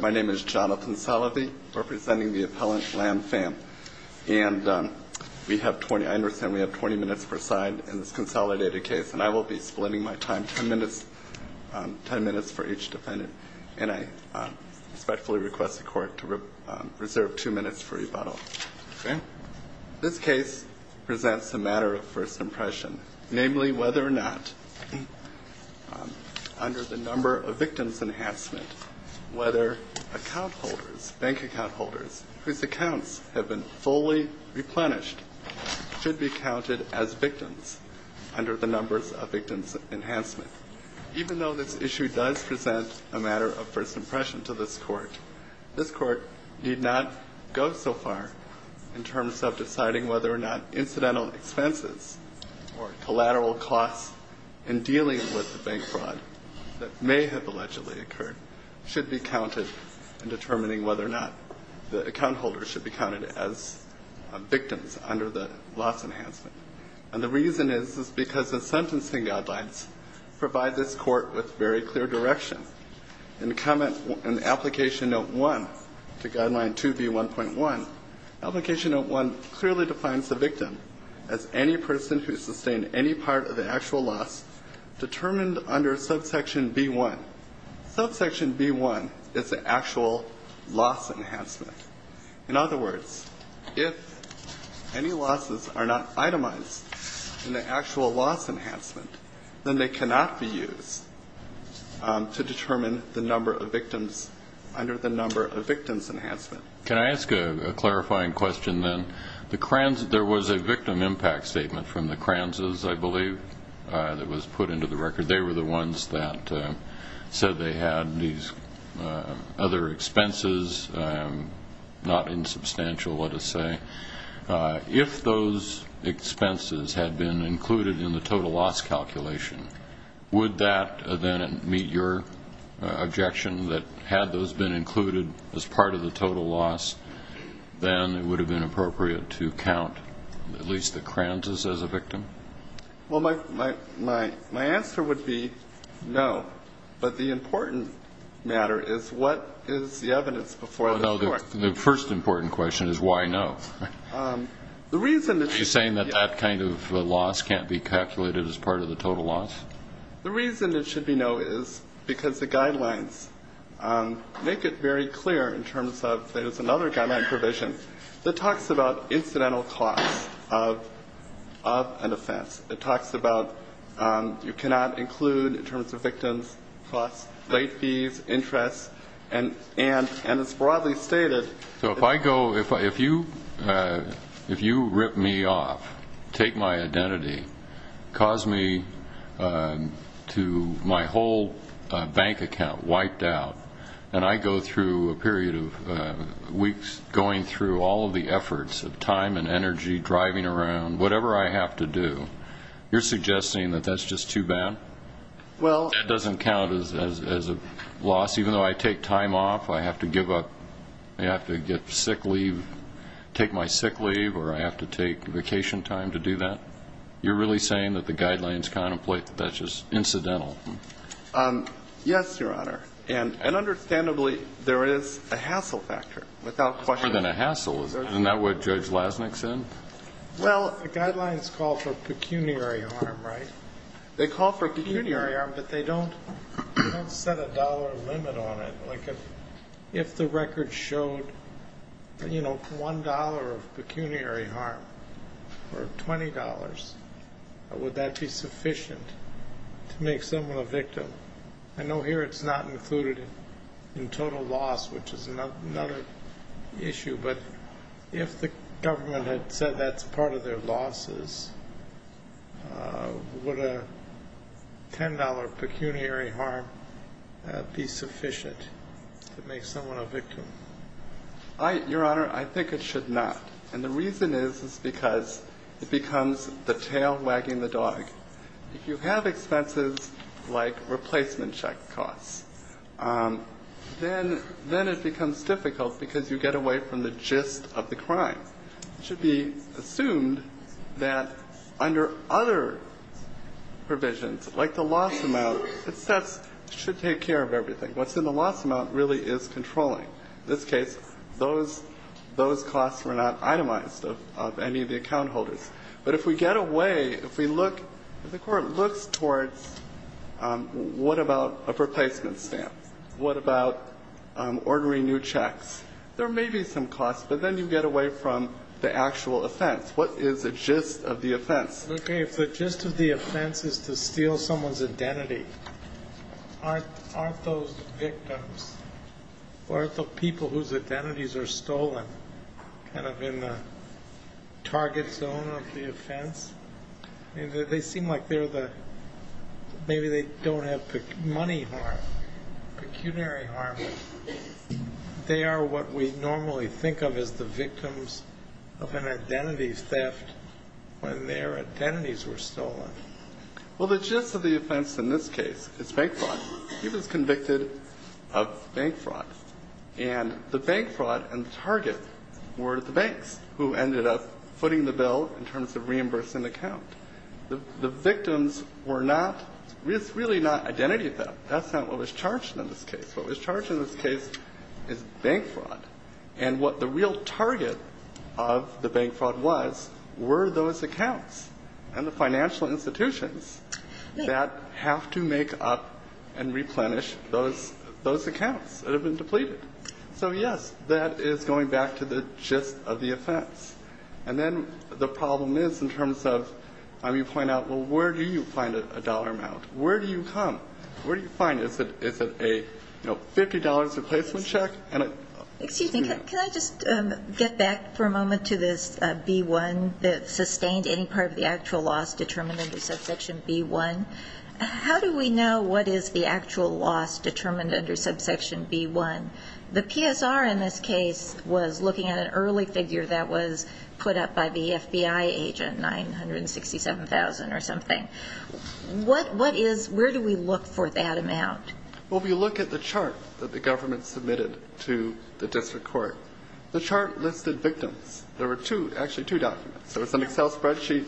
My name is Jonathan Salovey, representing the appellant Lam Pham, and I understand we have 20 minutes per side in this consolidated case, and I will be splitting my time, 10 minutes for each defendant, and I respectfully request the court to reserve 2 minutes for rebuttal. This case presents a matter of first impression, namely whether or not under the number of victims enhancement, whether bank account holders whose accounts have been fully replenished should be counted as victims under the numbers of victims enhancement. Even though this issue does present a matter of first impression to this court, this court need not go so far in terms of deciding whether or not incidental expenses or collateral costs in dealing with the bank fraud that may have allegedly occurred should be counted in determining whether or not the account holders should be counted as victims under the loss enhancement. And the reason is because the sentencing guidelines provide this court with very clear direction. In the comment in application note 1 to guideline 2B1.1, application note 1 clearly defines the victim as any person who sustained any part of the actual loss determined under subsection B1. Subsection B1 is the actual loss enhancement. In other words, if any losses are not itemized in the actual loss enhancement, then they cannot be used to determine the number of victims under the number of victims enhancement. Can I ask a clarifying question then? There was a victim impact statement from the Kranzes, I believe, that was put into the record. They were the ones that said they had these other expenses, not insubstantial, let us say. If those expenses had been included in the total loss calculation, would that then meet your objection that had those been included as part of the total loss, then it would have been appropriate to count at least the Kranzes as a victim? Well, my answer would be no. But the important matter is what is the evidence before the court? The first important question is why no? Are you saying that that kind of loss can't be calculated as part of the total loss? The reason it should be no is because the guidelines make it very clear in terms of there's another guideline provision that talks about incidental costs of an offense. It talks about you cannot include in terms of victims costs, late fees, interest, and it's broadly stated. So if I go, if you rip me off, take my identity, cause me to my whole bank account wiped out, and I go through a period of weeks going through all of the efforts of time and energy, driving around, whatever I have to do, you're suggesting that that's just too bad? Well. That doesn't count as a loss? Even though I take time off, I have to give up, I have to get sick leave, take my sick leave, or I have to take vacation time to do that? You're really saying that the guidelines contemplate that that's just incidental? Yes, Your Honor. And understandably, there is a hassle factor without question. More than a hassle. Isn't that what Judge Lasnik said? Well, the guidelines call for pecuniary harm, right? They call for pecuniary harm, but they don't set a dollar limit on it. Like if the record showed, you know, $1 of pecuniary harm or $20, would that be sufficient to make someone a victim? I know here it's not included in total loss, which is another issue, but if the government had said that's part of their losses, would a $10 pecuniary harm be sufficient to make someone a victim? Your Honor, I think it should not. And the reason is because it becomes the tail wagging the dog. If you have expenses like replacement check costs, then it becomes difficult because you get away from the gist of the crime. It should be assumed that under other provisions, like the loss amount, it should take care of everything. What's in the loss amount really is controlling. In this case, those costs were not itemized of any of the account holders. But if we get away, if we look, if the Court looks towards what about a replacement stamp, what about ordering new checks, there may be some costs, but then you get away from the actual offense. What is the gist of the offense? Okay. If the gist of the offense is to steal someone's identity, aren't those victims or the people whose identities are stolen kind of in the target zone of the offense? They seem like they're the – maybe they don't have money harm, pecuniary harm. They are what we normally think of as the victims of an identity theft when their identities were stolen. Well, the gist of the offense in this case is fake fraud. He was convicted of bank fraud, and the bank fraud and the target were the banks who ended up footing the bill in terms of reimbursing the account. The victims were not – it's really not identity theft. That's not what was charged in this case. What was charged in this case is bank fraud. And what the real target of the bank fraud was were those accounts and the financial institutions that have to make up and replenish those accounts that have been depleted. So, yes, that is going back to the gist of the offense. And then the problem is in terms of you point out, well, where do you find a dollar amount? Where do you come? Where do you find it? Is it a, you know, $50 replacement check? Excuse me. Can I just get back for a moment to this B1, sustained any part of the actual loss determined under subsection B1? How do we know what is the actual loss determined under subsection B1? The PSR in this case was looking at an early figure that was put up by the FBI agent, $967,000 or something. What is – where do we look for that amount? Well, we look at the chart that the government submitted to the district court. The chart listed victims. There were two, actually two documents. There was an Excel spreadsheet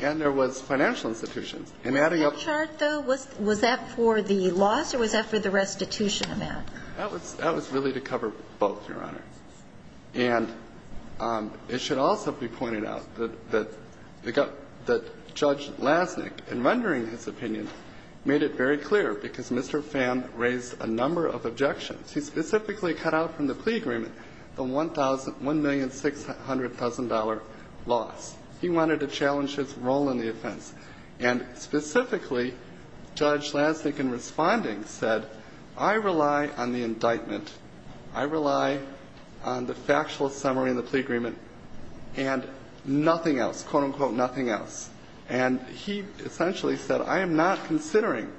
and there was financial institutions. And adding up – Was that chart, though, was that for the loss or was that for the restitution amount? That was really to cover both, Your Honor. And it should also be pointed out that Judge Lasnik, in rendering his opinion, made it very clear, because Mr. Pham raised a number of objections. He specifically cut out from the plea agreement the $1,000 – $1,600,000 loss. He wanted to challenge his role in the offense. And specifically, Judge Lasnik, in responding, said, I rely on the indictment. I rely on the factual summary in the plea agreement and nothing else, quote, unquote, nothing else. And he essentially said, I am not considering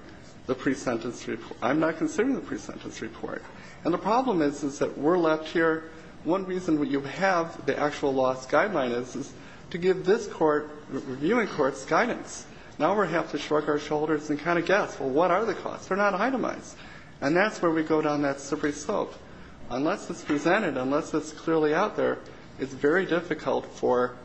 the pre-sentence report. I'm not considering the pre-sentence report. And the problem is, is that we're left here. One reason we have the actual loss guideline is to give this court, the reviewing court's guidance. Now we're going to have to shrug our shoulders and kind of guess, well, what are the costs? They're not itemized. And that's where we go down that slippery slope. Unless it's presented, unless it's clearly out there, it's very difficult for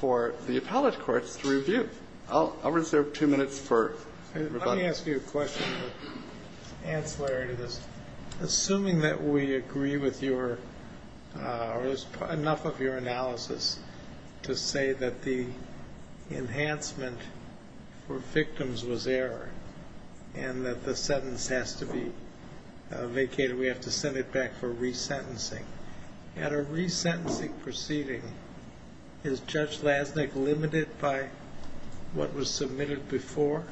the appellate courts to review. I'll reserve two minutes for rebuttal. Let me ask you a question for ancillary to this. Assuming that we agree with your – or enough of your analysis to say that the enhancement for victims was error and that the sentence has to be vacated, we have to send it back for resentencing. At a resentencing proceeding, is Judge Lasnik limited by what was submitted before?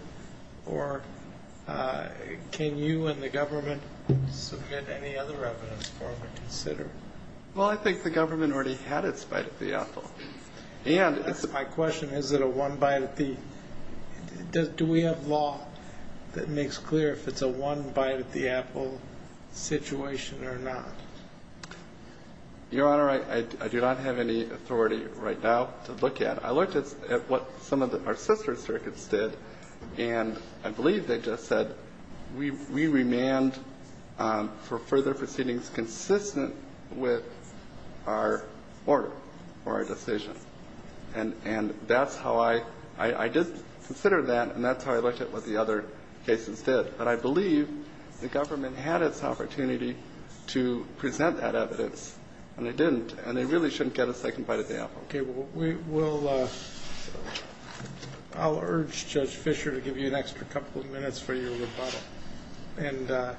Or can you and the government submit any other evidence for him to consider? Well, I think the government already had its bite at the apple. My question, is it a one bite at the – do we have law that makes clear if it's a one bite at the apple situation or not? Your Honor, I do not have any authority right now to look at. I looked at what some of our sister circuits did, and I believe they just said we remand for further proceedings consistent with our order or our decision. And that's how I – I did consider that, and that's how I looked at what the other cases did. But I believe the government had its opportunity to present that evidence, and they didn't. And they really shouldn't get a second bite at the apple. Okay. Well, we'll – I'll urge Judge Fischer to give you an extra couple of minutes for your rebuttal.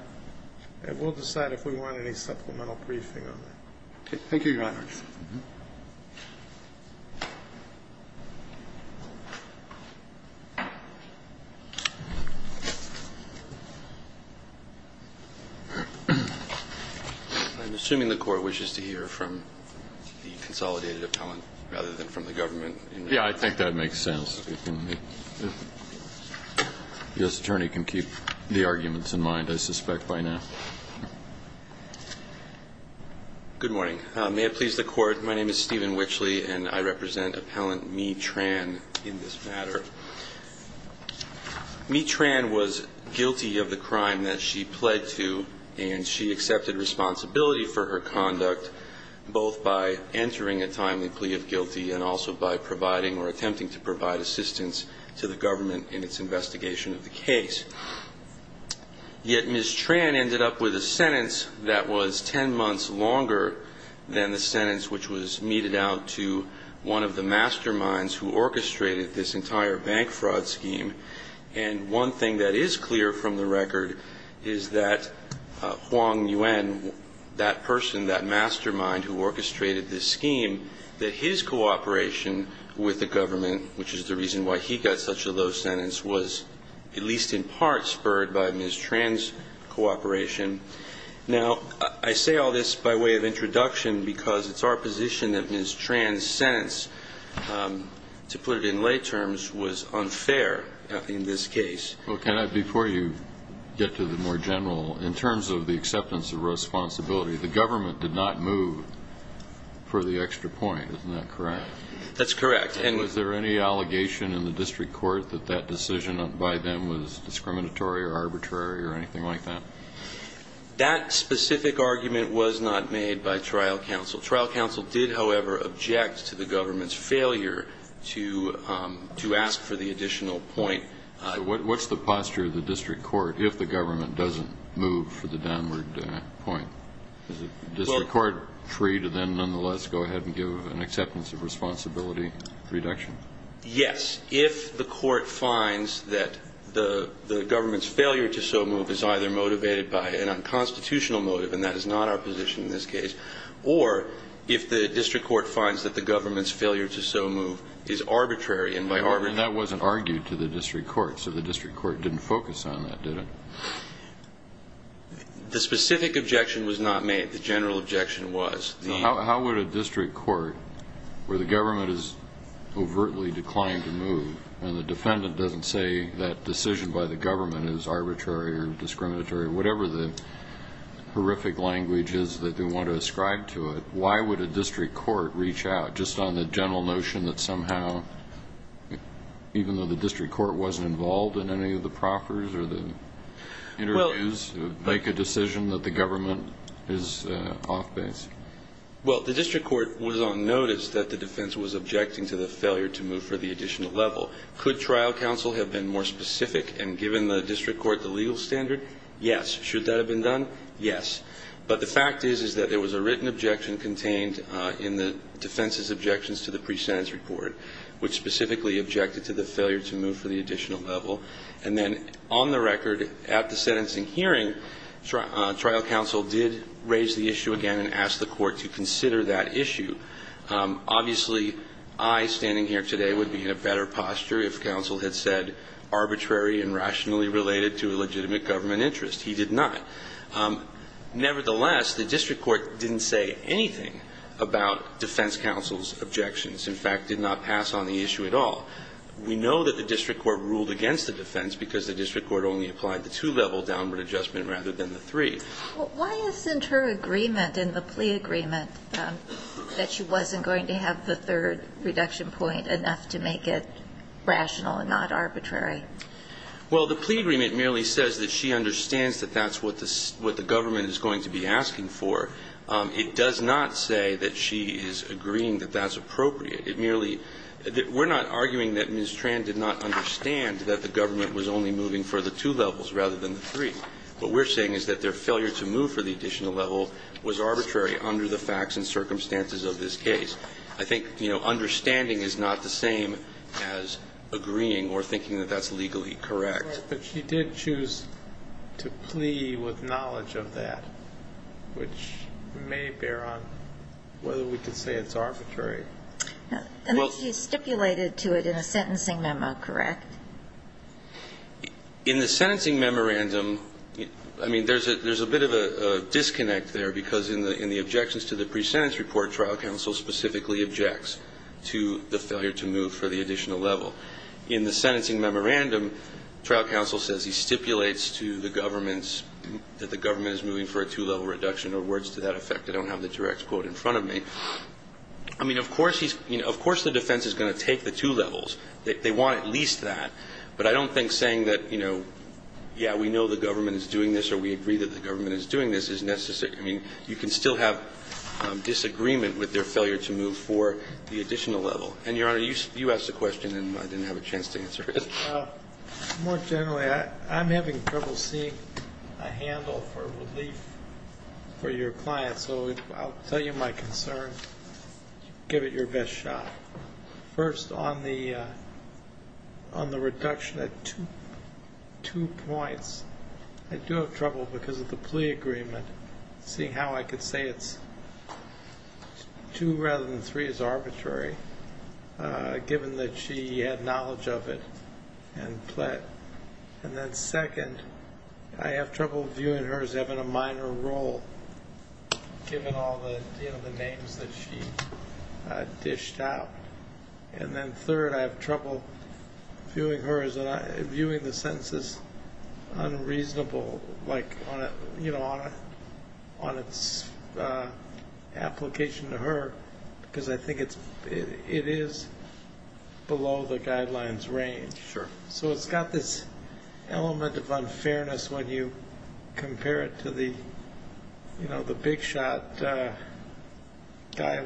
And we'll decide if we want any supplemental briefing on that. Okay. Thank you, Your Honor. I'm assuming the Court wishes to hear from the consolidated appellant rather than from the government. Yeah. I think that makes sense. If the U.S. Attorney can keep the arguments in mind, I suspect, by now. Good morning. May it please the Court, please. My name is Stephen Witchley, and I represent Appellant Mee Tran in this matter. Mee Tran was guilty of the crime that she pled to, and she accepted responsibility for her conduct, both by entering a timely plea of guilty and also by providing or attempting to provide assistance to the government in its investigation of the case. Yet Ms. Tran ended up with a sentence that was 10 months longer than the sentence which was meted out to one of the masterminds who orchestrated this entire bank fraud scheme. And one thing that is clear from the record is that Huang Yuan, that person, that mastermind who orchestrated this scheme, that his cooperation with the Ms. Tran's cooperation. Now, I say all this by way of introduction because it's our position that Ms. Tran's sentence, to put it in lay terms, was unfair in this case. Well, can I, before you get to the more general, in terms of the acceptance of responsibility, the government did not move for the extra point. Isn't that correct? That's correct. And was there any allegation in the district court that that decision by them was discriminatory or arbitrary or anything like that? That specific argument was not made by trial counsel. Trial counsel did, however, object to the government's failure to ask for the additional point. So what's the posture of the district court if the government doesn't move for the downward point? Is the district court free to then nonetheless go ahead and give an acceptance of responsibility reduction? Yes, if the court finds that the government's failure to so move is either motivated by an unconstitutional motive, and that is not our position in this case, or if the district court finds that the government's failure to so move is arbitrary. And that wasn't argued to the district court, so the district court didn't focus on that, did it? The specific objection was not made. The general objection was. How would a district court where the government has overtly declined to move and the defendant doesn't say that decision by the government is arbitrary or discriminatory, whatever the horrific language is that they want to ascribe to it, why would a district court reach out just on the general notion that somehow, even though the district court wasn't involved in any of the proffers or the interviews, make a decision that the government is off base? Well, the district court was on notice that the defense was objecting to the failure to move for the additional level. Could trial counsel have been more specific and given the district court the legal standard? Yes. Should that have been done? Yes. But the fact is that there was a written objection contained in the defense's objections to the pre-sentence report, which specifically objected to the failure to move for the additional level. And then on the record at the sentencing hearing, trial counsel did raise the issue again and ask the court to consider that issue. Obviously, I standing here today would be in a better posture if counsel had said arbitrary and rationally related to a legitimate government interest. He did not. Nevertheless, the district court didn't say anything about defense counsel's objections, in fact, did not pass on the issue at all. We know that the district court ruled against the defense because the district court only applied the two-level downward adjustment rather than the three. Well, why isn't her agreement in the plea agreement that she wasn't going to have the third reduction point enough to make it rational and not arbitrary? Well, the plea agreement merely says that she understands that that's what the government is going to be asking for. It does not say that she is agreeing that that's appropriate. We're not arguing that Ms. Tran did not understand that the government was only moving for the two levels rather than the three. What we're saying is that their failure to move for the additional level was arbitrary under the facts and circumstances of this case. I think understanding is not the same as agreeing or thinking that that's legally correct. But she did choose to plea with knowledge of that, which may bear on whether we can say it's arbitrary. And he stipulated to it in a sentencing memo, correct? In the sentencing memorandum, I mean, there's a bit of a disconnect there because in the objections to the pre-sentence report, trial counsel specifically objects to the failure to move for the additional level. In the sentencing memorandum, trial counsel says he stipulates to the government that the government is moving for a two-level reduction or words to that effect. I don't have the direct quote in front of me. I mean, of course the defense is going to take the two levels. They want at least that. But I don't think saying that, you know, yeah, we know the government is doing this or we agree that the government is doing this is necessary. I mean, you can still have disagreement with their failure to move for the additional level. And, Your Honor, you asked a question and I didn't have a chance to answer it. More generally, I'm having trouble seeing a handle for relief for your client. So I'll tell you my concern. Give it your best shot. First, on the reduction at two points, I do have trouble because of the plea agreement, seeing how I could say it's two rather than three is arbitrary, given that she had knowledge of it and pled. And then second, I have trouble viewing her as having a minor role, given all the names that she dished out. And then third, I have trouble viewing the sentences unreasonable, like, you know, on its application to her because I think it is below the guidelines range. So it's got this element of unfairness when you compare it to the, you know, the big shot guy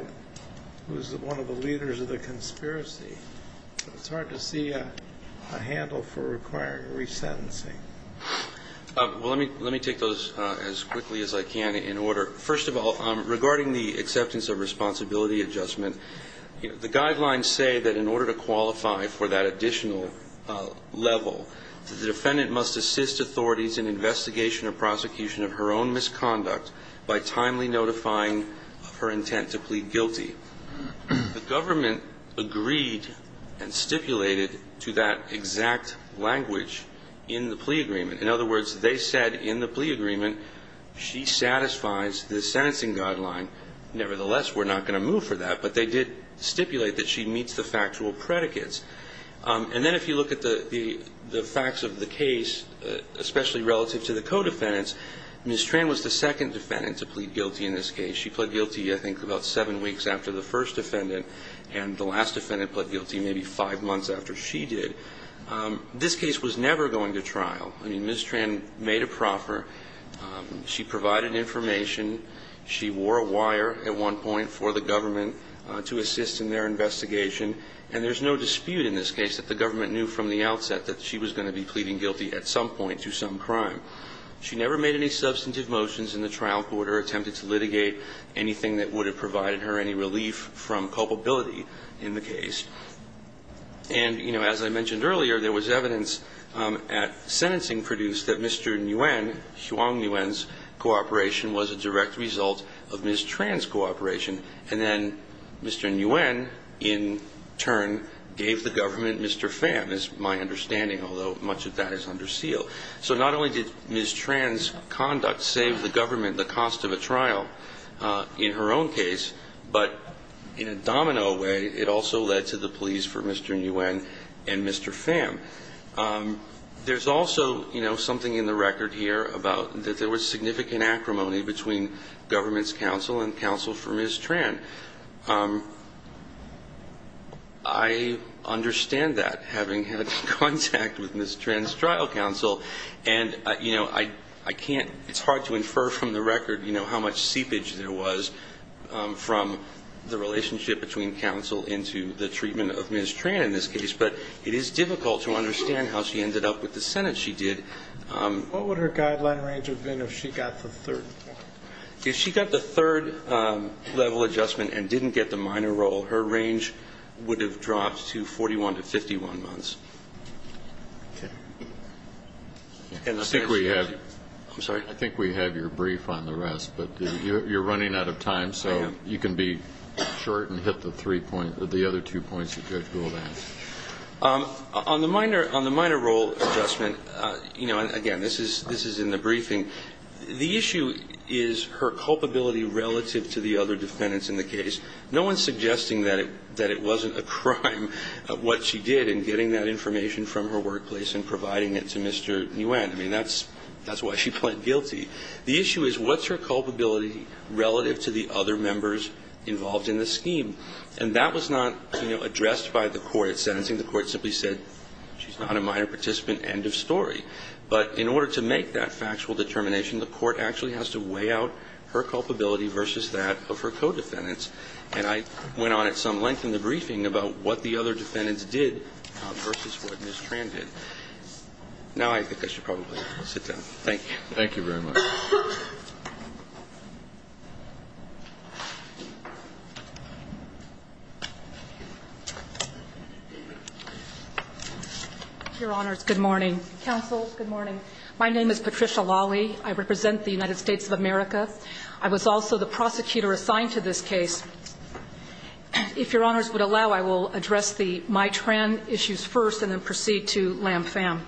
who's one of the leaders of the conspiracy. It's hard to see a handle for requiring resentencing. Well, let me take those as quickly as I can in order. First of all, regarding the acceptance of responsibility adjustment, the guidelines say that in order to qualify for that additional level, that the defendant must assist authorities in investigation or prosecution of her own misconduct by timely notifying of her intent to plead guilty. The government agreed and stipulated to that exact language in the plea agreement. In other words, they said in the plea agreement she satisfies the sentencing guideline. Nevertheless, we're not going to move for that. But they did stipulate that she meets the factual predicates. And then if you look at the facts of the case, especially relative to the co-defendants, Ms. Tran was the second defendant to plead guilty in this case. She pled guilty, I think, about seven weeks after the first defendant. And the last defendant pled guilty maybe five months after she did. This case was never going to trial. I mean, Ms. Tran made a proffer. She provided information. She wore a wire at one point for the government to assist in their investigation. And there's no dispute in this case that the government knew from the outset that she was going to be pleading guilty at some point to some crime. She never made any substantive motions in the trial court or attempted to litigate anything that would have provided her any relief from culpability in the case. And, you know, as I mentioned earlier, there was evidence at sentencing produced that Mr. Nguyen, Huong Nguyen's cooperation was a direct result of Ms. Tran's cooperation. And then Mr. Nguyen, in turn, gave the government Mr. Pham, is my understanding, although much of that is under seal. So not only did Ms. Tran's conduct save the government the cost of a trial in her own case, but in a domino way, it also led to the pleas for Mr. Nguyen and Mr. Pham. There's also, you know, something in the record here about that there was significant acrimony between government's counsel and counsel for Ms. Tran. I understand that, having had contact with Ms. Tran's trial counsel. And, you know, I can't, it's hard to infer from the record, you know, how much seepage there was from the relationship between counsel into the treatment of Ms. Tran in this case. But it is difficult to understand how she ended up with the Senate she did. What would her guideline range have been if she got the third? If she got the third level adjustment and didn't get the minor role, her range would have dropped to 41 to 51 months. I think we have your brief on the rest. But you're running out of time, so you can be short and hit the three points, if you're able to answer. On the minor role adjustment, you know, again, this is in the briefing. The issue is her culpability relative to the other defendants in the case. No one's suggesting that it wasn't a crime what she did in getting that information from her workplace and providing it to Mr. Nguyen. I mean, that's why she pled guilty. The issue is what's her culpability relative to the other members involved in the scheme. And that was not, you know, addressed by the court at sentencing. The court simply said she's not a minor participant, end of story. But in order to make that factual determination, the court actually has to weigh out her culpability versus that of her co-defendants. And I went on at some length in the briefing about what the other defendants did versus what Ms. Tran did. Now I think I should probably sit down. Thank you. Thank you very much. Your Honors, good morning. Counsel, good morning. My name is Patricia Lawley. I represent the United States of America. I was also the prosecutor assigned to this case. If Your Honors would allow, I will address the My Tran issues first and then proceed to Lam Pham.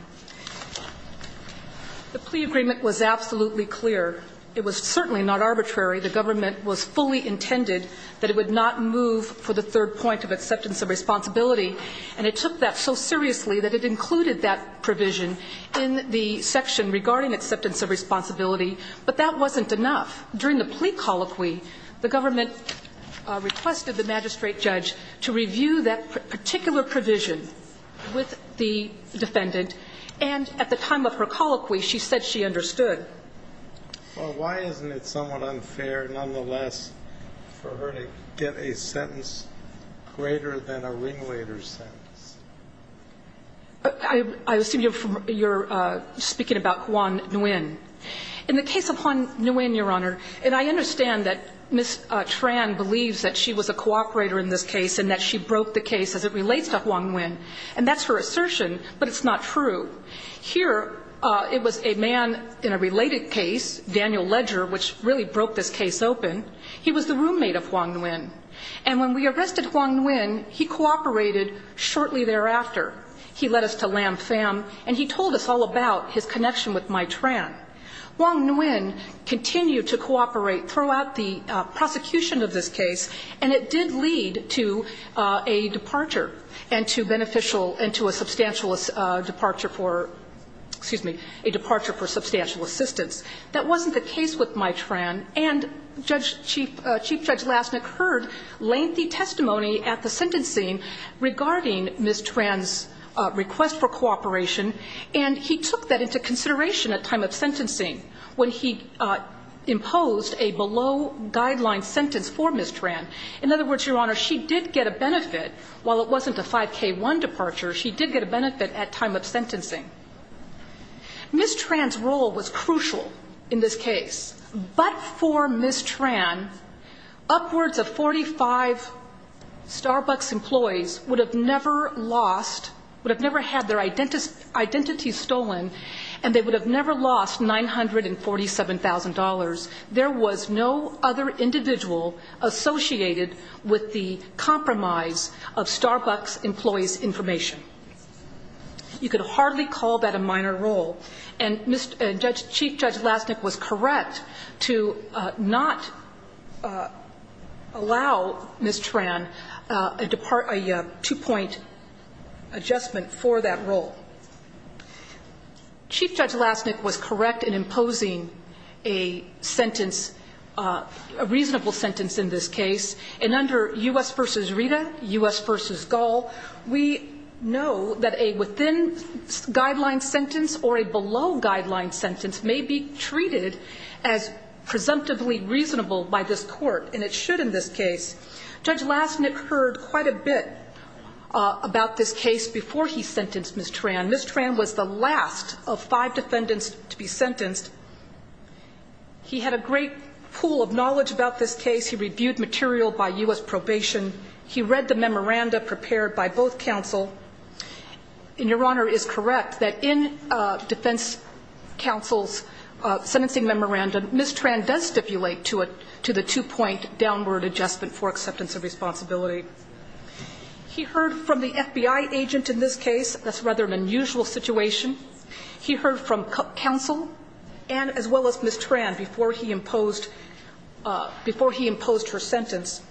The plea agreement was absolutely clear. It was certainly not arbitrary. The government was fully intended that it would not move for the third point of acceptance of responsibility. And it took that so seriously that it included that provision in the section regarding acceptance of responsibility. But that wasn't enough. During the plea colloquy, the government requested the magistrate judge to review that particular provision with the defendant. And at the time of her colloquy, she said she understood. Well, why isn't it somewhat unfair, nonetheless, for her to get a sentence greater than a ringleader's sentence? I assume you're speaking about Juan Nguyen. In the case of Juan Nguyen, Your Honor, and I understand that Ms. Tran believes that she was a cooperator in this case and that she broke the case as it relates to Juan Nguyen. And that's her assertion, but it's not true. Here it was a man in a related case, Daniel Ledger, which really broke this case open. He was the roommate of Juan Nguyen. And when we arrested Juan Nguyen, he cooperated shortly thereafter. He led us to Lam Pham, and he told us all about his connection with My Tran. Juan Nguyen continued to cooperate throughout the prosecution of this case and it did lead to a departure and to beneficial and to a substantial departure for, excuse me, a departure for substantial assistance. That wasn't the case with My Tran. And Chief Judge Lastnick heard lengthy testimony at the sentencing regarding Ms. Tran's request for cooperation, and he took that into consideration at time of sentencing when he imposed a below guideline sentence for Ms. Tran. In other words, Your Honor, she did get a benefit. While it wasn't a 5K1 departure, she did get a benefit at time of sentencing. Ms. Tran's role was crucial in this case. But for Ms. Tran, upwards of 45 Starbucks employees would have never lost, would have never lost $947,000. There was no other individual associated with the compromise of Starbucks employees' information. You could hardly call that a minor role. And Chief Judge Lastnick was correct to not allow Ms. Tran a two-point adjustment for that role. Chief Judge Lastnick was correct in imposing a sentence, a reasonable sentence in this case. And under U.S. v. Rita, U.S. v. Gall, we know that a within guideline sentence or a below guideline sentence may be treated as presumptively reasonable by this court, and it should in this case. Judge Lastnick heard quite a bit about this case before he sentenced Ms. Tran. Ms. Tran was the last of five defendants to be sentenced. He had a great pool of knowledge about this case. He reviewed material by U.S. probation. He read the memoranda prepared by both counsel. And Your Honor is correct that in defense counsel's sentencing memoranda, Ms. Tran had a reasonable sentence. He heard from the FBI agent in this case. That's rather an unusual situation. He heard from counsel and as well as Ms. Tran before he imposed her sentence.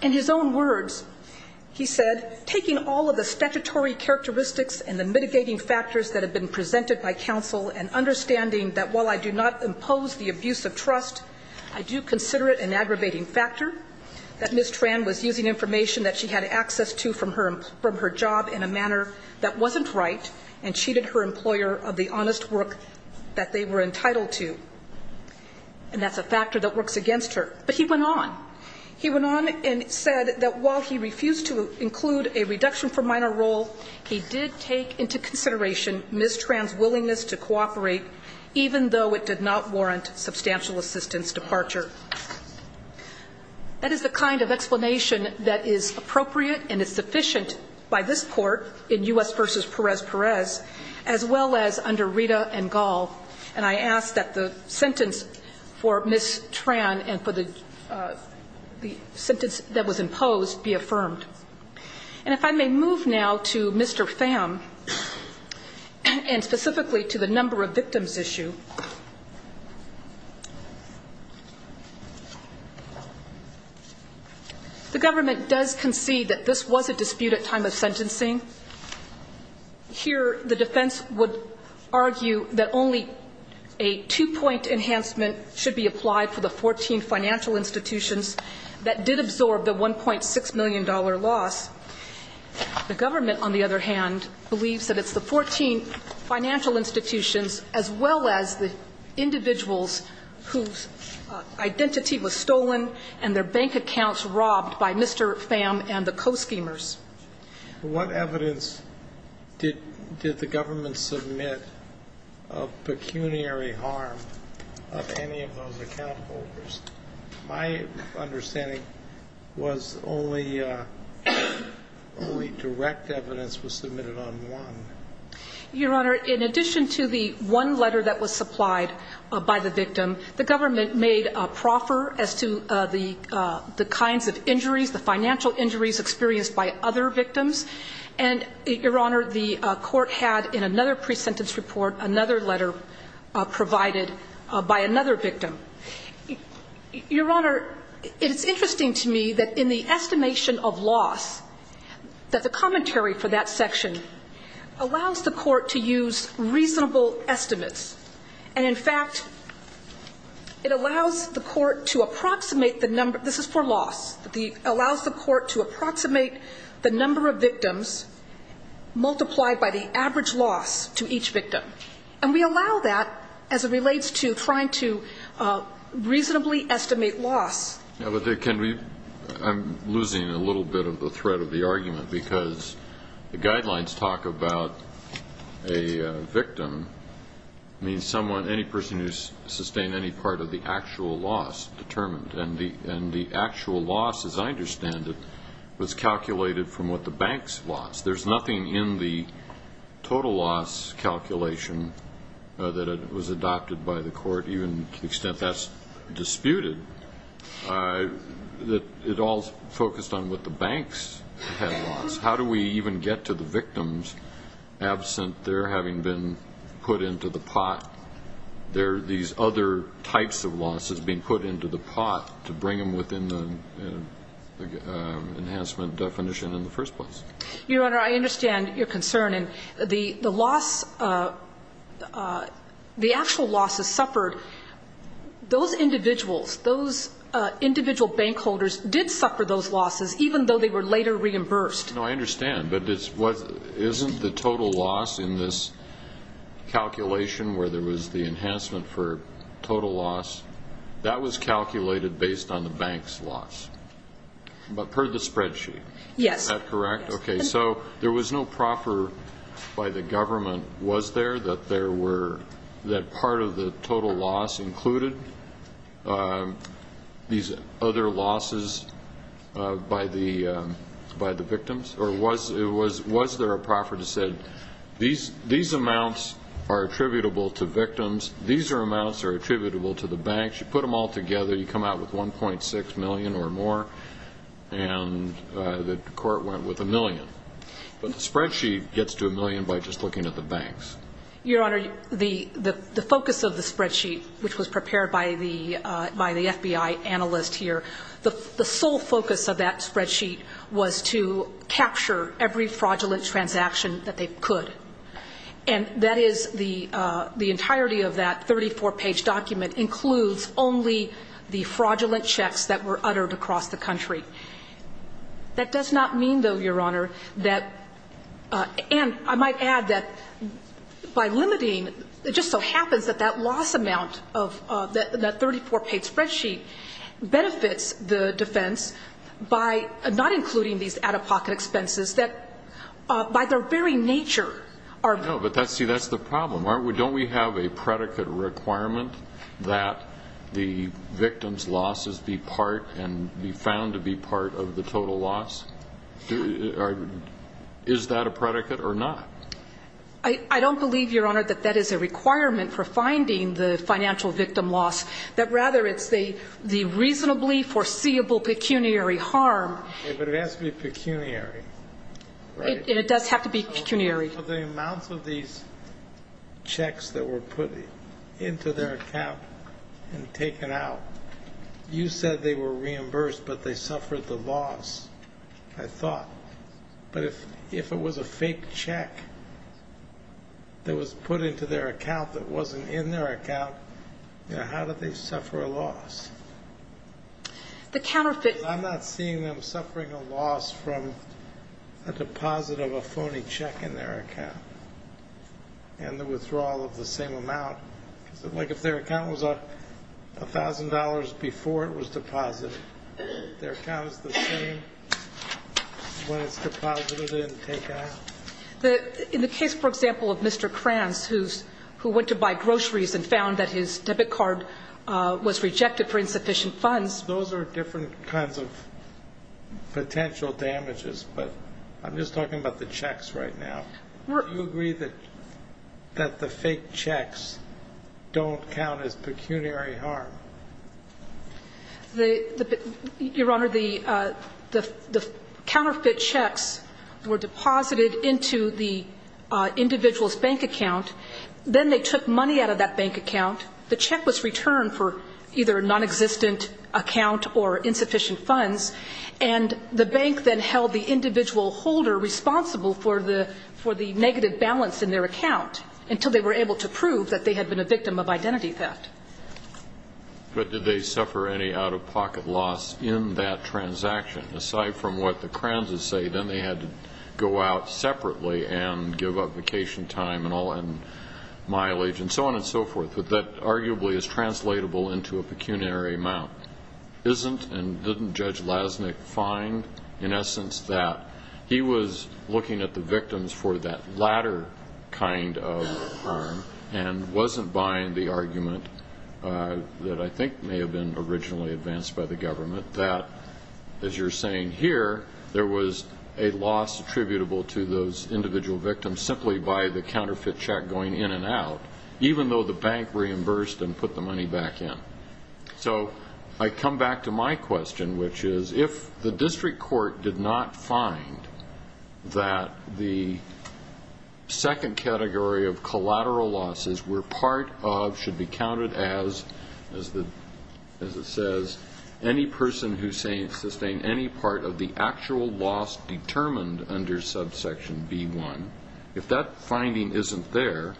In his own words, he said, taking all of the statutory characteristics and the mitigating factors that have been presented by counsel and understanding that while I do not impose the abuse of trust, I do consider it an aggravating factor that Ms. Tran was using information that she had access to from her job in a manner that wasn't right and cheated her employer of the honest work that they were entitled to. And that's a factor that works against her. But he went on. He went on and said that while he refused to include a reduction for minor role, he did take into consideration Ms. Tran's willingness to cooperate even though it did not warrant substantial assistance departure. That is the kind of explanation that is appropriate and is sufficient by this court in U.S. v. Perez-Perez as well as under Rita and Gall. And I ask that the sentence for Ms. Tran and for the sentence that was imposed be affirmed. And if I may move now to Mr. Pham and specifically to the number of victims issue. The government does concede that this was a dispute at time of sentencing. Here the defense would argue that only a two-point enhancement should be applied for the 14 financial institutions that did absorb the $1.6 million loss. The government, on the other hand, believes that it's the 14 financial institutions as well as the individuals whose identity was stolen and their bank accounts robbed by Mr. Pham and the co-schemers. What evidence did the government submit of pecuniary harm of any of those account holders? My understanding was only direct evidence was submitted on one. Your Honor, in addition to the one letter that was supplied by the victim, the government made a proffer as to the kinds of injuries, the financial injuries experienced by other victims. And, Your Honor, the court had in another pre-sentence report another letter provided by another victim. Your Honor, it's interesting to me that in the estimation of loss that the commentary for that section allows the court to use reasonable estimates. And, in fact, it allows the court to approximate the number. This is for loss. It allows the court to approximate the number of victims multiplied by the average loss to each victim. And we allow that as it relates to trying to reasonably estimate loss. I'm losing a little bit of the thread of the argument because the guidelines talk about a victim means someone, any person who's sustained any part of the actual loss determined. And the actual loss, as I understand it, was calculated from what the banks lost. There's nothing in the total loss calculation that was adopted by the court, even to the extent that's disputed, that it all focused on what the banks had lost. How do we even get to the victims absent their having been put into the pot? There are these other types of losses being put into the pot to bring them within the enhancement definition in the first place. Your Honor, I understand your concern. And the loss, the actual losses suffered, those individuals, those individual bank holders did suffer those losses, even though they were later reimbursed. No, I understand. But isn't the total loss in this calculation where there was the enhancement for total loss, that was calculated based on the bank's loss, but per the spreadsheet? Yes. Is that correct? Yes. Okay. So there was no proffer by the government, was there, that part of the total loss included these other losses by the victims? Or was there a proffer that said, these amounts are attributable to victims, these amounts are attributable to the banks. You put them all together, you come out with 1.6 million or more, and the court went with a million. But the spreadsheet gets to a million by just looking at the banks. Your Honor, the focus of the spreadsheet, which was prepared by the FBI analyst here, the sole focus of that spreadsheet was to capture every fraudulent transaction that they could. And that is the entirety of that 34-page document includes only the fraudulent checks that were uttered across the country. That does not mean, though, Your Honor, that and I might add that by limiting it just so happens that that loss amount of that 34-page spreadsheet benefits the defense by not including these out-of-pocket expenses that by their very nature are. No, but see, that's the problem. Don't we have a predicate requirement that the victims' losses be part and be found to be part of the total loss? Is that a predicate or not? I don't believe, Your Honor, that that is a requirement for finding the financial victim loss, that rather it's the reasonably foreseeable pecuniary harm. But it has to be pecuniary, right? It does have to be pecuniary. Well, the amounts of these checks that were put into their account and taken out, you said they were reimbursed but they suffered the loss, I thought. But if it was a fake check that was put into their account that wasn't in their account, how do they suffer a loss? The counterfeit. I'm not seeing them suffering a loss from a deposit of a phony check in their account and the withdrawal of the same amount. Like if their account was $1,000 before it was deposited, their account is the same when it's deposited and taken out? In the case, for example, of Mr. Kranz, who went to buy groceries and found that his debit card was rejected for insufficient funds. Those are different kinds of potential damages. But I'm just talking about the checks right now. Do you agree that the fake checks don't count as pecuniary harm? Your Honor, the counterfeit checks were deposited into the individual's bank account. Then they took money out of that bank account. The check was returned for either a nonexistent account or insufficient funds, and the bank then held the individual holder responsible for the negative balance in their account until they were able to prove that they had been a victim of identity theft. But did they suffer any out-of-pocket loss in that transaction? Aside from what the Kranzes say, then they had to go out separately and give up vacation time and mileage and so on and so forth. But that arguably is translatable into a pecuniary amount. Isn't and didn't Judge Lasnik find, in essence, that he was looking at the victims for that latter kind of harm and wasn't buying the argument that I think may have been originally advanced by the government that, as you're saying here, there was a loss attributable to those individual victims simply by the counterfeit check going in and out? Even though the bank reimbursed and put the money back in. So I come back to my question, which is, if the district court did not find that the second category of collateral losses were part of, should be counted as, as it says, any person who sustained any part of the actual loss determined under subsection B1. If that finding isn't there,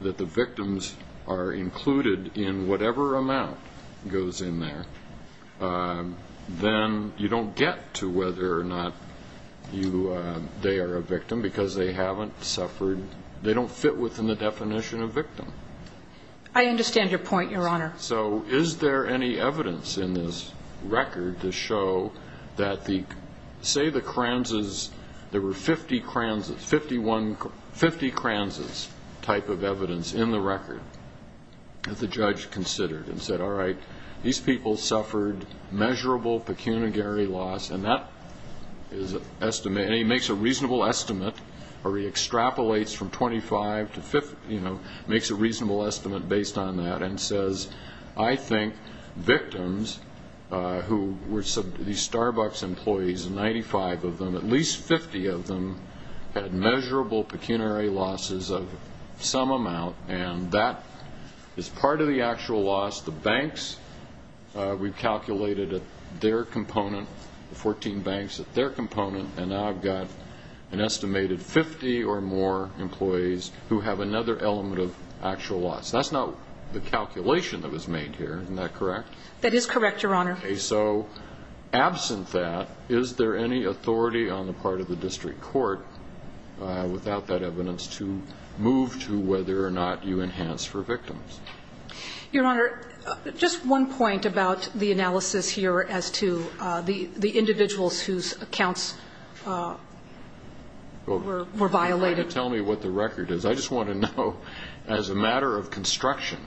that the victims are included in whatever amount goes in there, then you don't get to whether or not you, they are a victim because they haven't suffered, they don't fit within the definition of victim. I understand your point, Your Honor. So is there any evidence in this record to show that the, say the Kranzes, there were 50 Kranzes, 51, 50 Kranzes type of evidence in the record that the judge considered and said, all right, these people suffered measurable pecuniary loss, and that is an estimate, and he makes a reasonable estimate, or he extrapolates from 25 to 50, you know, makes a reasonable estimate based on that and says, I think who were these Starbucks employees, 95 of them, at least 50 of them had measurable pecuniary losses of some amount, and that is part of the actual loss. The banks, we've calculated their component, the 14 banks at their component, and now I've got an estimated 50 or more employees who have another element of actual loss. That's not the calculation that was made here. Isn't that correct? That is correct, Your Honor. Okay. So absent that, is there any authority on the part of the district court without that evidence to move to whether or not you enhance for victims? Your Honor, just one point about the analysis here as to the individuals whose accounts were violated. You're trying to tell me what the record is. I just want to know, as a matter of construction,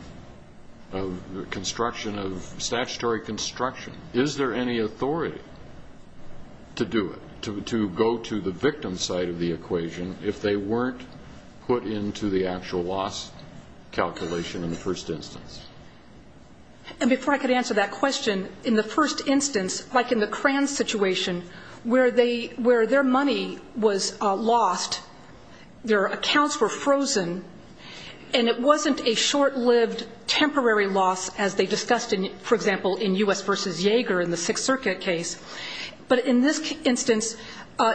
of construction of statutory construction, is there any authority to do it, to go to the victim's side of the equation if they weren't put into the actual loss calculation in the first instance? And before I could answer that question, in the first instance, like in the Kranz situation, where their money was lost, their accounts were frozen, and it wasn't a short-lived temporary loss as they discussed, for example, in U.S. v. Jaeger in the Sixth Circuit case. But in this instance,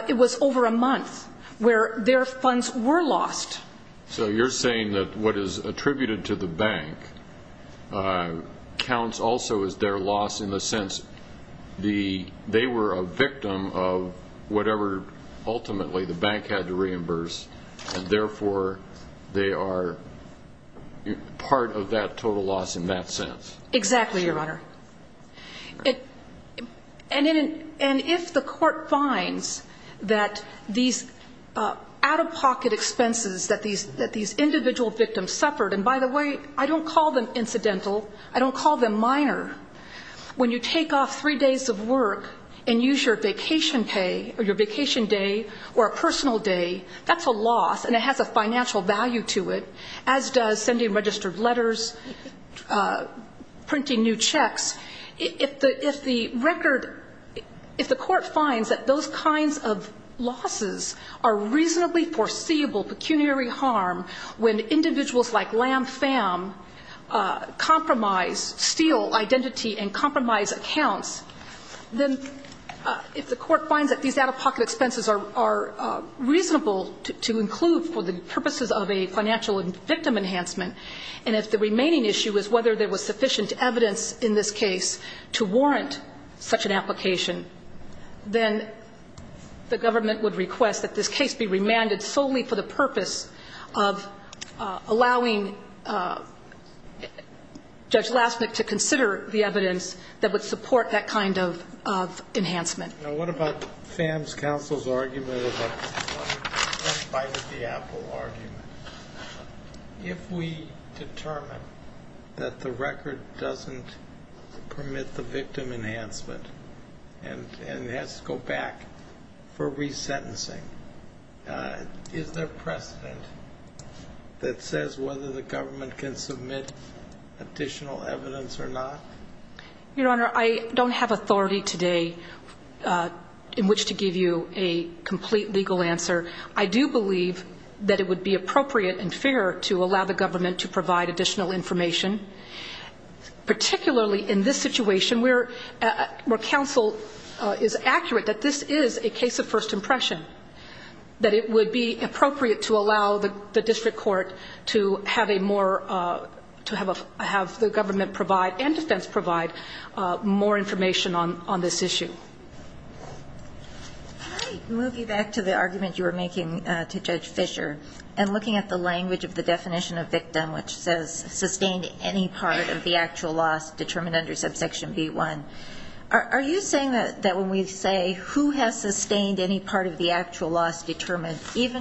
it was over a month where their funds were lost. So you're saying that what is attributed to the bank counts also as their loss in the sense they were a victim of whatever ultimately the bank had to reimburse, and therefore they are part of that total loss in that sense? Exactly, Your Honor. And if the court finds that these out-of-pocket expenses that these individual victims suffered, and by the way, I don't call them incidental, I don't call them when you take off three days of work and use your vacation pay or your vacation day or a personal day, that's a loss and it has a financial value to it, as does sending registered letters, printing new checks. If the record, if the court finds that those kinds of losses are reasonably foreseeable pecuniary harm when individuals like Lam Pham compromise, steal identity and compromise accounts, then if the court finds that these out-of-pocket expenses are reasonable to include for the purposes of a financial victim enhancement and if the remaining issue is whether there was sufficient evidence in this case to warrant such an application, then the government would request that this case be remanded solely for the purpose of allowing Judge Lasnik to consider the evidence that would support that kind of enhancement. Now, what about Pham's counsel's argument about the Apple argument? If we determine that the record doesn't permit the victim enhancement and has to go back for resentencing, is there precedent that says whether the government can submit additional evidence or not? Your Honor, I don't have authority today in which to give you a complete legal answer. I do believe that it would be appropriate and fair to allow the government to provide additional information, particularly in this situation where counsel is accurate that this is a case of first impression, that it would be appropriate to allow the district court to have a more to have the government provide and defense provide more information on this issue. All right. Moving back to the argument you were making to Judge Fischer and looking at the language of the definition of victim, which says sustained any part of the actual loss determined, even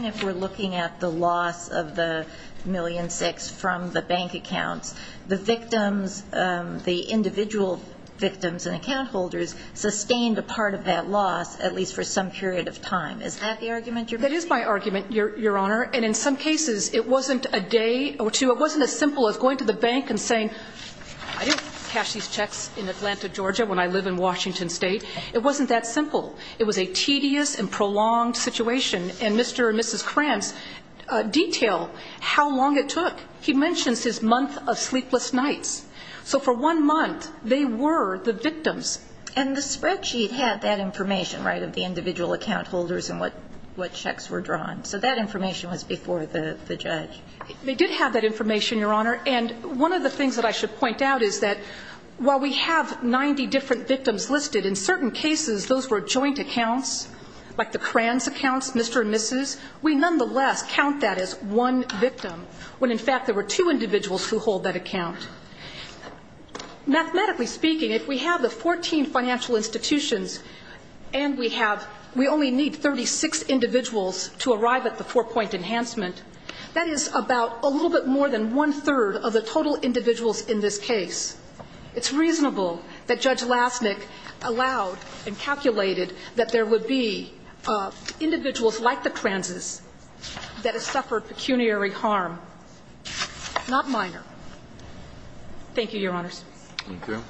if we're looking at the loss of the million six from the bank accounts, the victims, the individual victims and account holders sustained a part of that loss, at least for some period of time. Is that the argument you're making? That is my argument, Your Honor. And in some cases, it wasn't a day or two. It wasn't as simple as going to the bank and saying, I didn't cash these checks in Atlanta, Georgia, when I live in Washington State. It wasn't that simple. It was a tedious and prolonged situation. And Mr. and Mrs. Krantz detail how long it took. He mentions his month of sleepless nights. So for one month, they were the victims. And the spreadsheet had that information, right, of the individual account holders and what checks were drawn. So that information was before the judge. They did have that information, Your Honor. And one of the things that I should point out is that while we have 90 different victims listed, in certain cases, those were joint accounts, like the Krantz accounts, Mr. and Mrs., we nonetheless count that as one victim, when in fact there were two individuals who hold that account. Mathematically speaking, if we have the 14 financial institutions and we have we only need 36 individuals to arrive at the four-point enhancement, that is about a little bit more than one-third of the total individuals in this case. It's reasonable that Judge Lasnik allowed and calculated that there would be individuals like the Krantz's that have suffered pecuniary harm, not minor. Thank you, Your Honors. Thank you.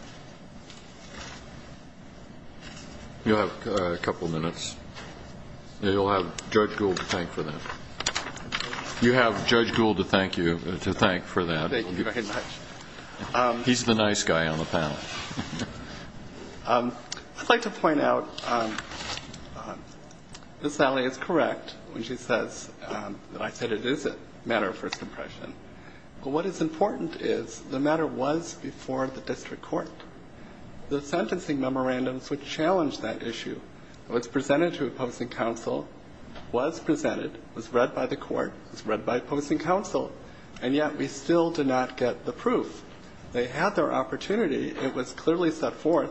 You have a couple of minutes. And you'll have Judge Gould to thank for that. You have Judge Gould to thank you, to thank for that. Thank you very much. He's the nice guy on the panel. I'd like to point out that Sally is correct when she says that I said it is a matter of first impression. But what is important is the matter was before the district court. The sentencing memorandums would challenge that issue. It was presented to a posting council, was presented, was read by the court, was read by a posting council. And yet we still did not get the proof. They had their opportunity. It was clearly set forth.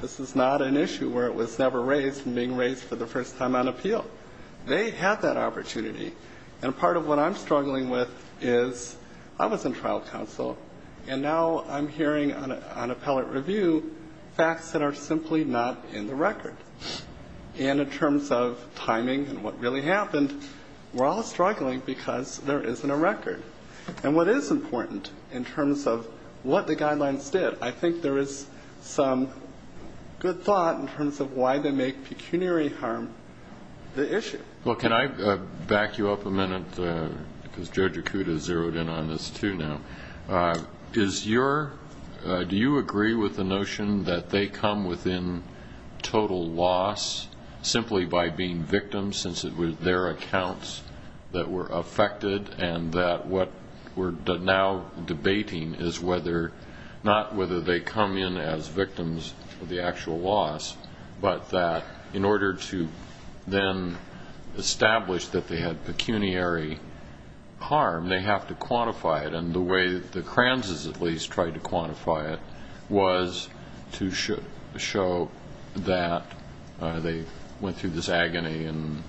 This is not an issue where it was never raised and being raised for the first time on appeal. They had that opportunity. And part of what I'm struggling with is I was in trial counsel, and now I'm hearing on appellate review facts that are simply not in the record. And in terms of timing and what really happened, we're all struggling because there isn't a record. And what is important in terms of what the guidelines did, I think there is some good thought in terms of why they make pecuniary harm the issue. Well, can I back you up a minute? Because Judge Akuta zeroed in on this too now. Do you agree with the notion that they come within total loss simply by being victims since it was their accounts that were affected and that what we're now debating is whether, not whether they come in as victims of the actual loss, but that in order to then establish that they had pecuniary harm, they have to quantify it. And the way the Kranzes at least tried to quantify it was to show that they went through this agony and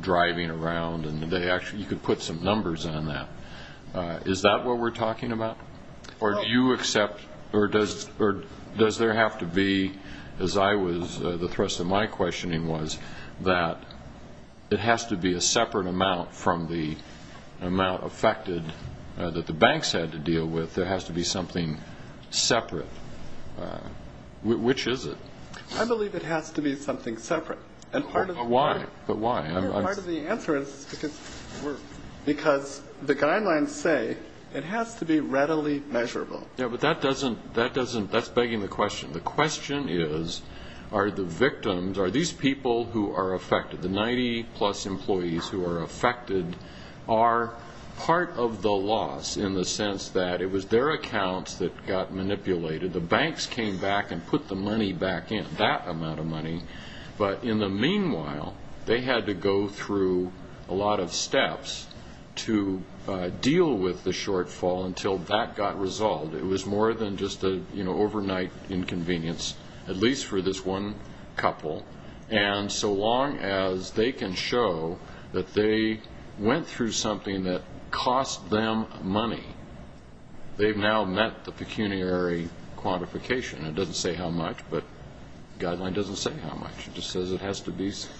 driving around, and you could put some numbers on that. Is that what we're talking about? Or do you accept or does there have to be, as I was, the thrust of my questioning was, that it has to be a separate amount from the amount affected that the banks had to deal with? There has to be something separate. Which is it? I believe it has to be something separate. But why? Part of the answer is because the guidelines say it has to be readily measurable. Yeah, but that doesn't, that's begging the question. The question is, are the victims, are these people who are affected, the 90-plus employees who are affected, are part of the loss in the sense that it was their accounts that got manipulated, the banks came back and put the money back in, that amount of money. But in the meanwhile, they had to go through a lot of steps to deal with the shortfall until that got resolved. It was more than just an overnight inconvenience, at least for this one couple. And so long as they can show that they went through something that cost them money, they've now met the pecuniary quantification. It doesn't say how much, but the guideline doesn't say how much. It just says it has to be separate.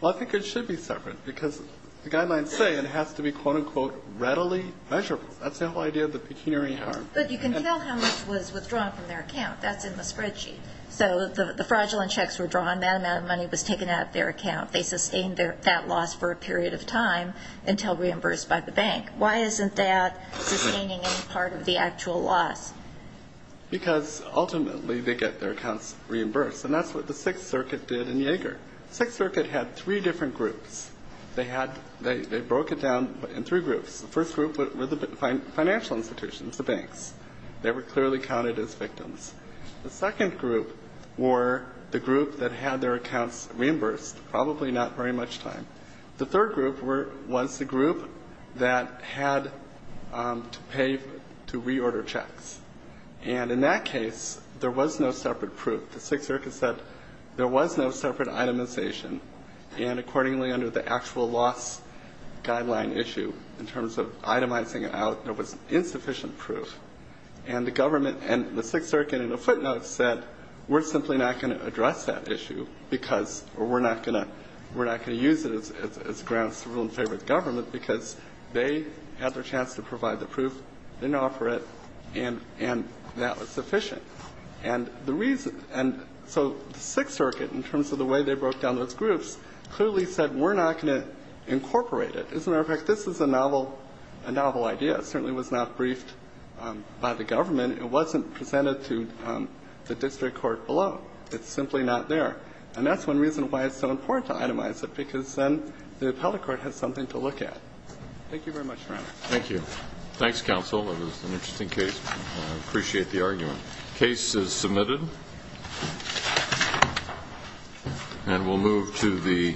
Well, I think it should be separate because the guidelines say it has to be, quote, unquote, readily measurable. That's the whole idea of the pecuniary harm. But you can tell how much was withdrawn from their account. That's in the spreadsheet. So the fraudulent checks were drawn, that amount of money was taken out of their account. They sustained that loss for a period of time until reimbursed by the bank. Why isn't that sustaining any part of the actual loss? Because ultimately they get their accounts reimbursed, and that's what the Sixth Circuit did in Yeager. The Sixth Circuit had three different groups. They broke it down in three groups. The first group were the financial institutions, the banks. They were clearly counted as victims. The second group were the group that had their accounts reimbursed, probably not very much time. The third group were the group that had to pay to reorder checks. And in that case, there was no separate proof. The Sixth Circuit said there was no separate itemization. And accordingly, under the actual loss guideline issue, in terms of itemizing it out, there was insufficient proof. And the government and the Sixth Circuit in a footnote said we're simply not going to address that issue because or we're not going to use it as grounds to rule in favor of the government because they had their chance to provide the proof. They didn't offer it. And that was sufficient. And the reason so the Sixth Circuit, in terms of the way they broke down those groups, clearly said we're not going to incorporate it. As a matter of fact, this is a novel idea. It certainly was not briefed by the government. It wasn't presented to the district court below. It's simply not there. And that's one reason why it's so important to itemize it, because then the appellate court has something to look at. Thank you very much, Your Honor. Thank you. Thanks, counsel. It was an interesting case. I appreciate the argument. The case is submitted. And we'll move to the next.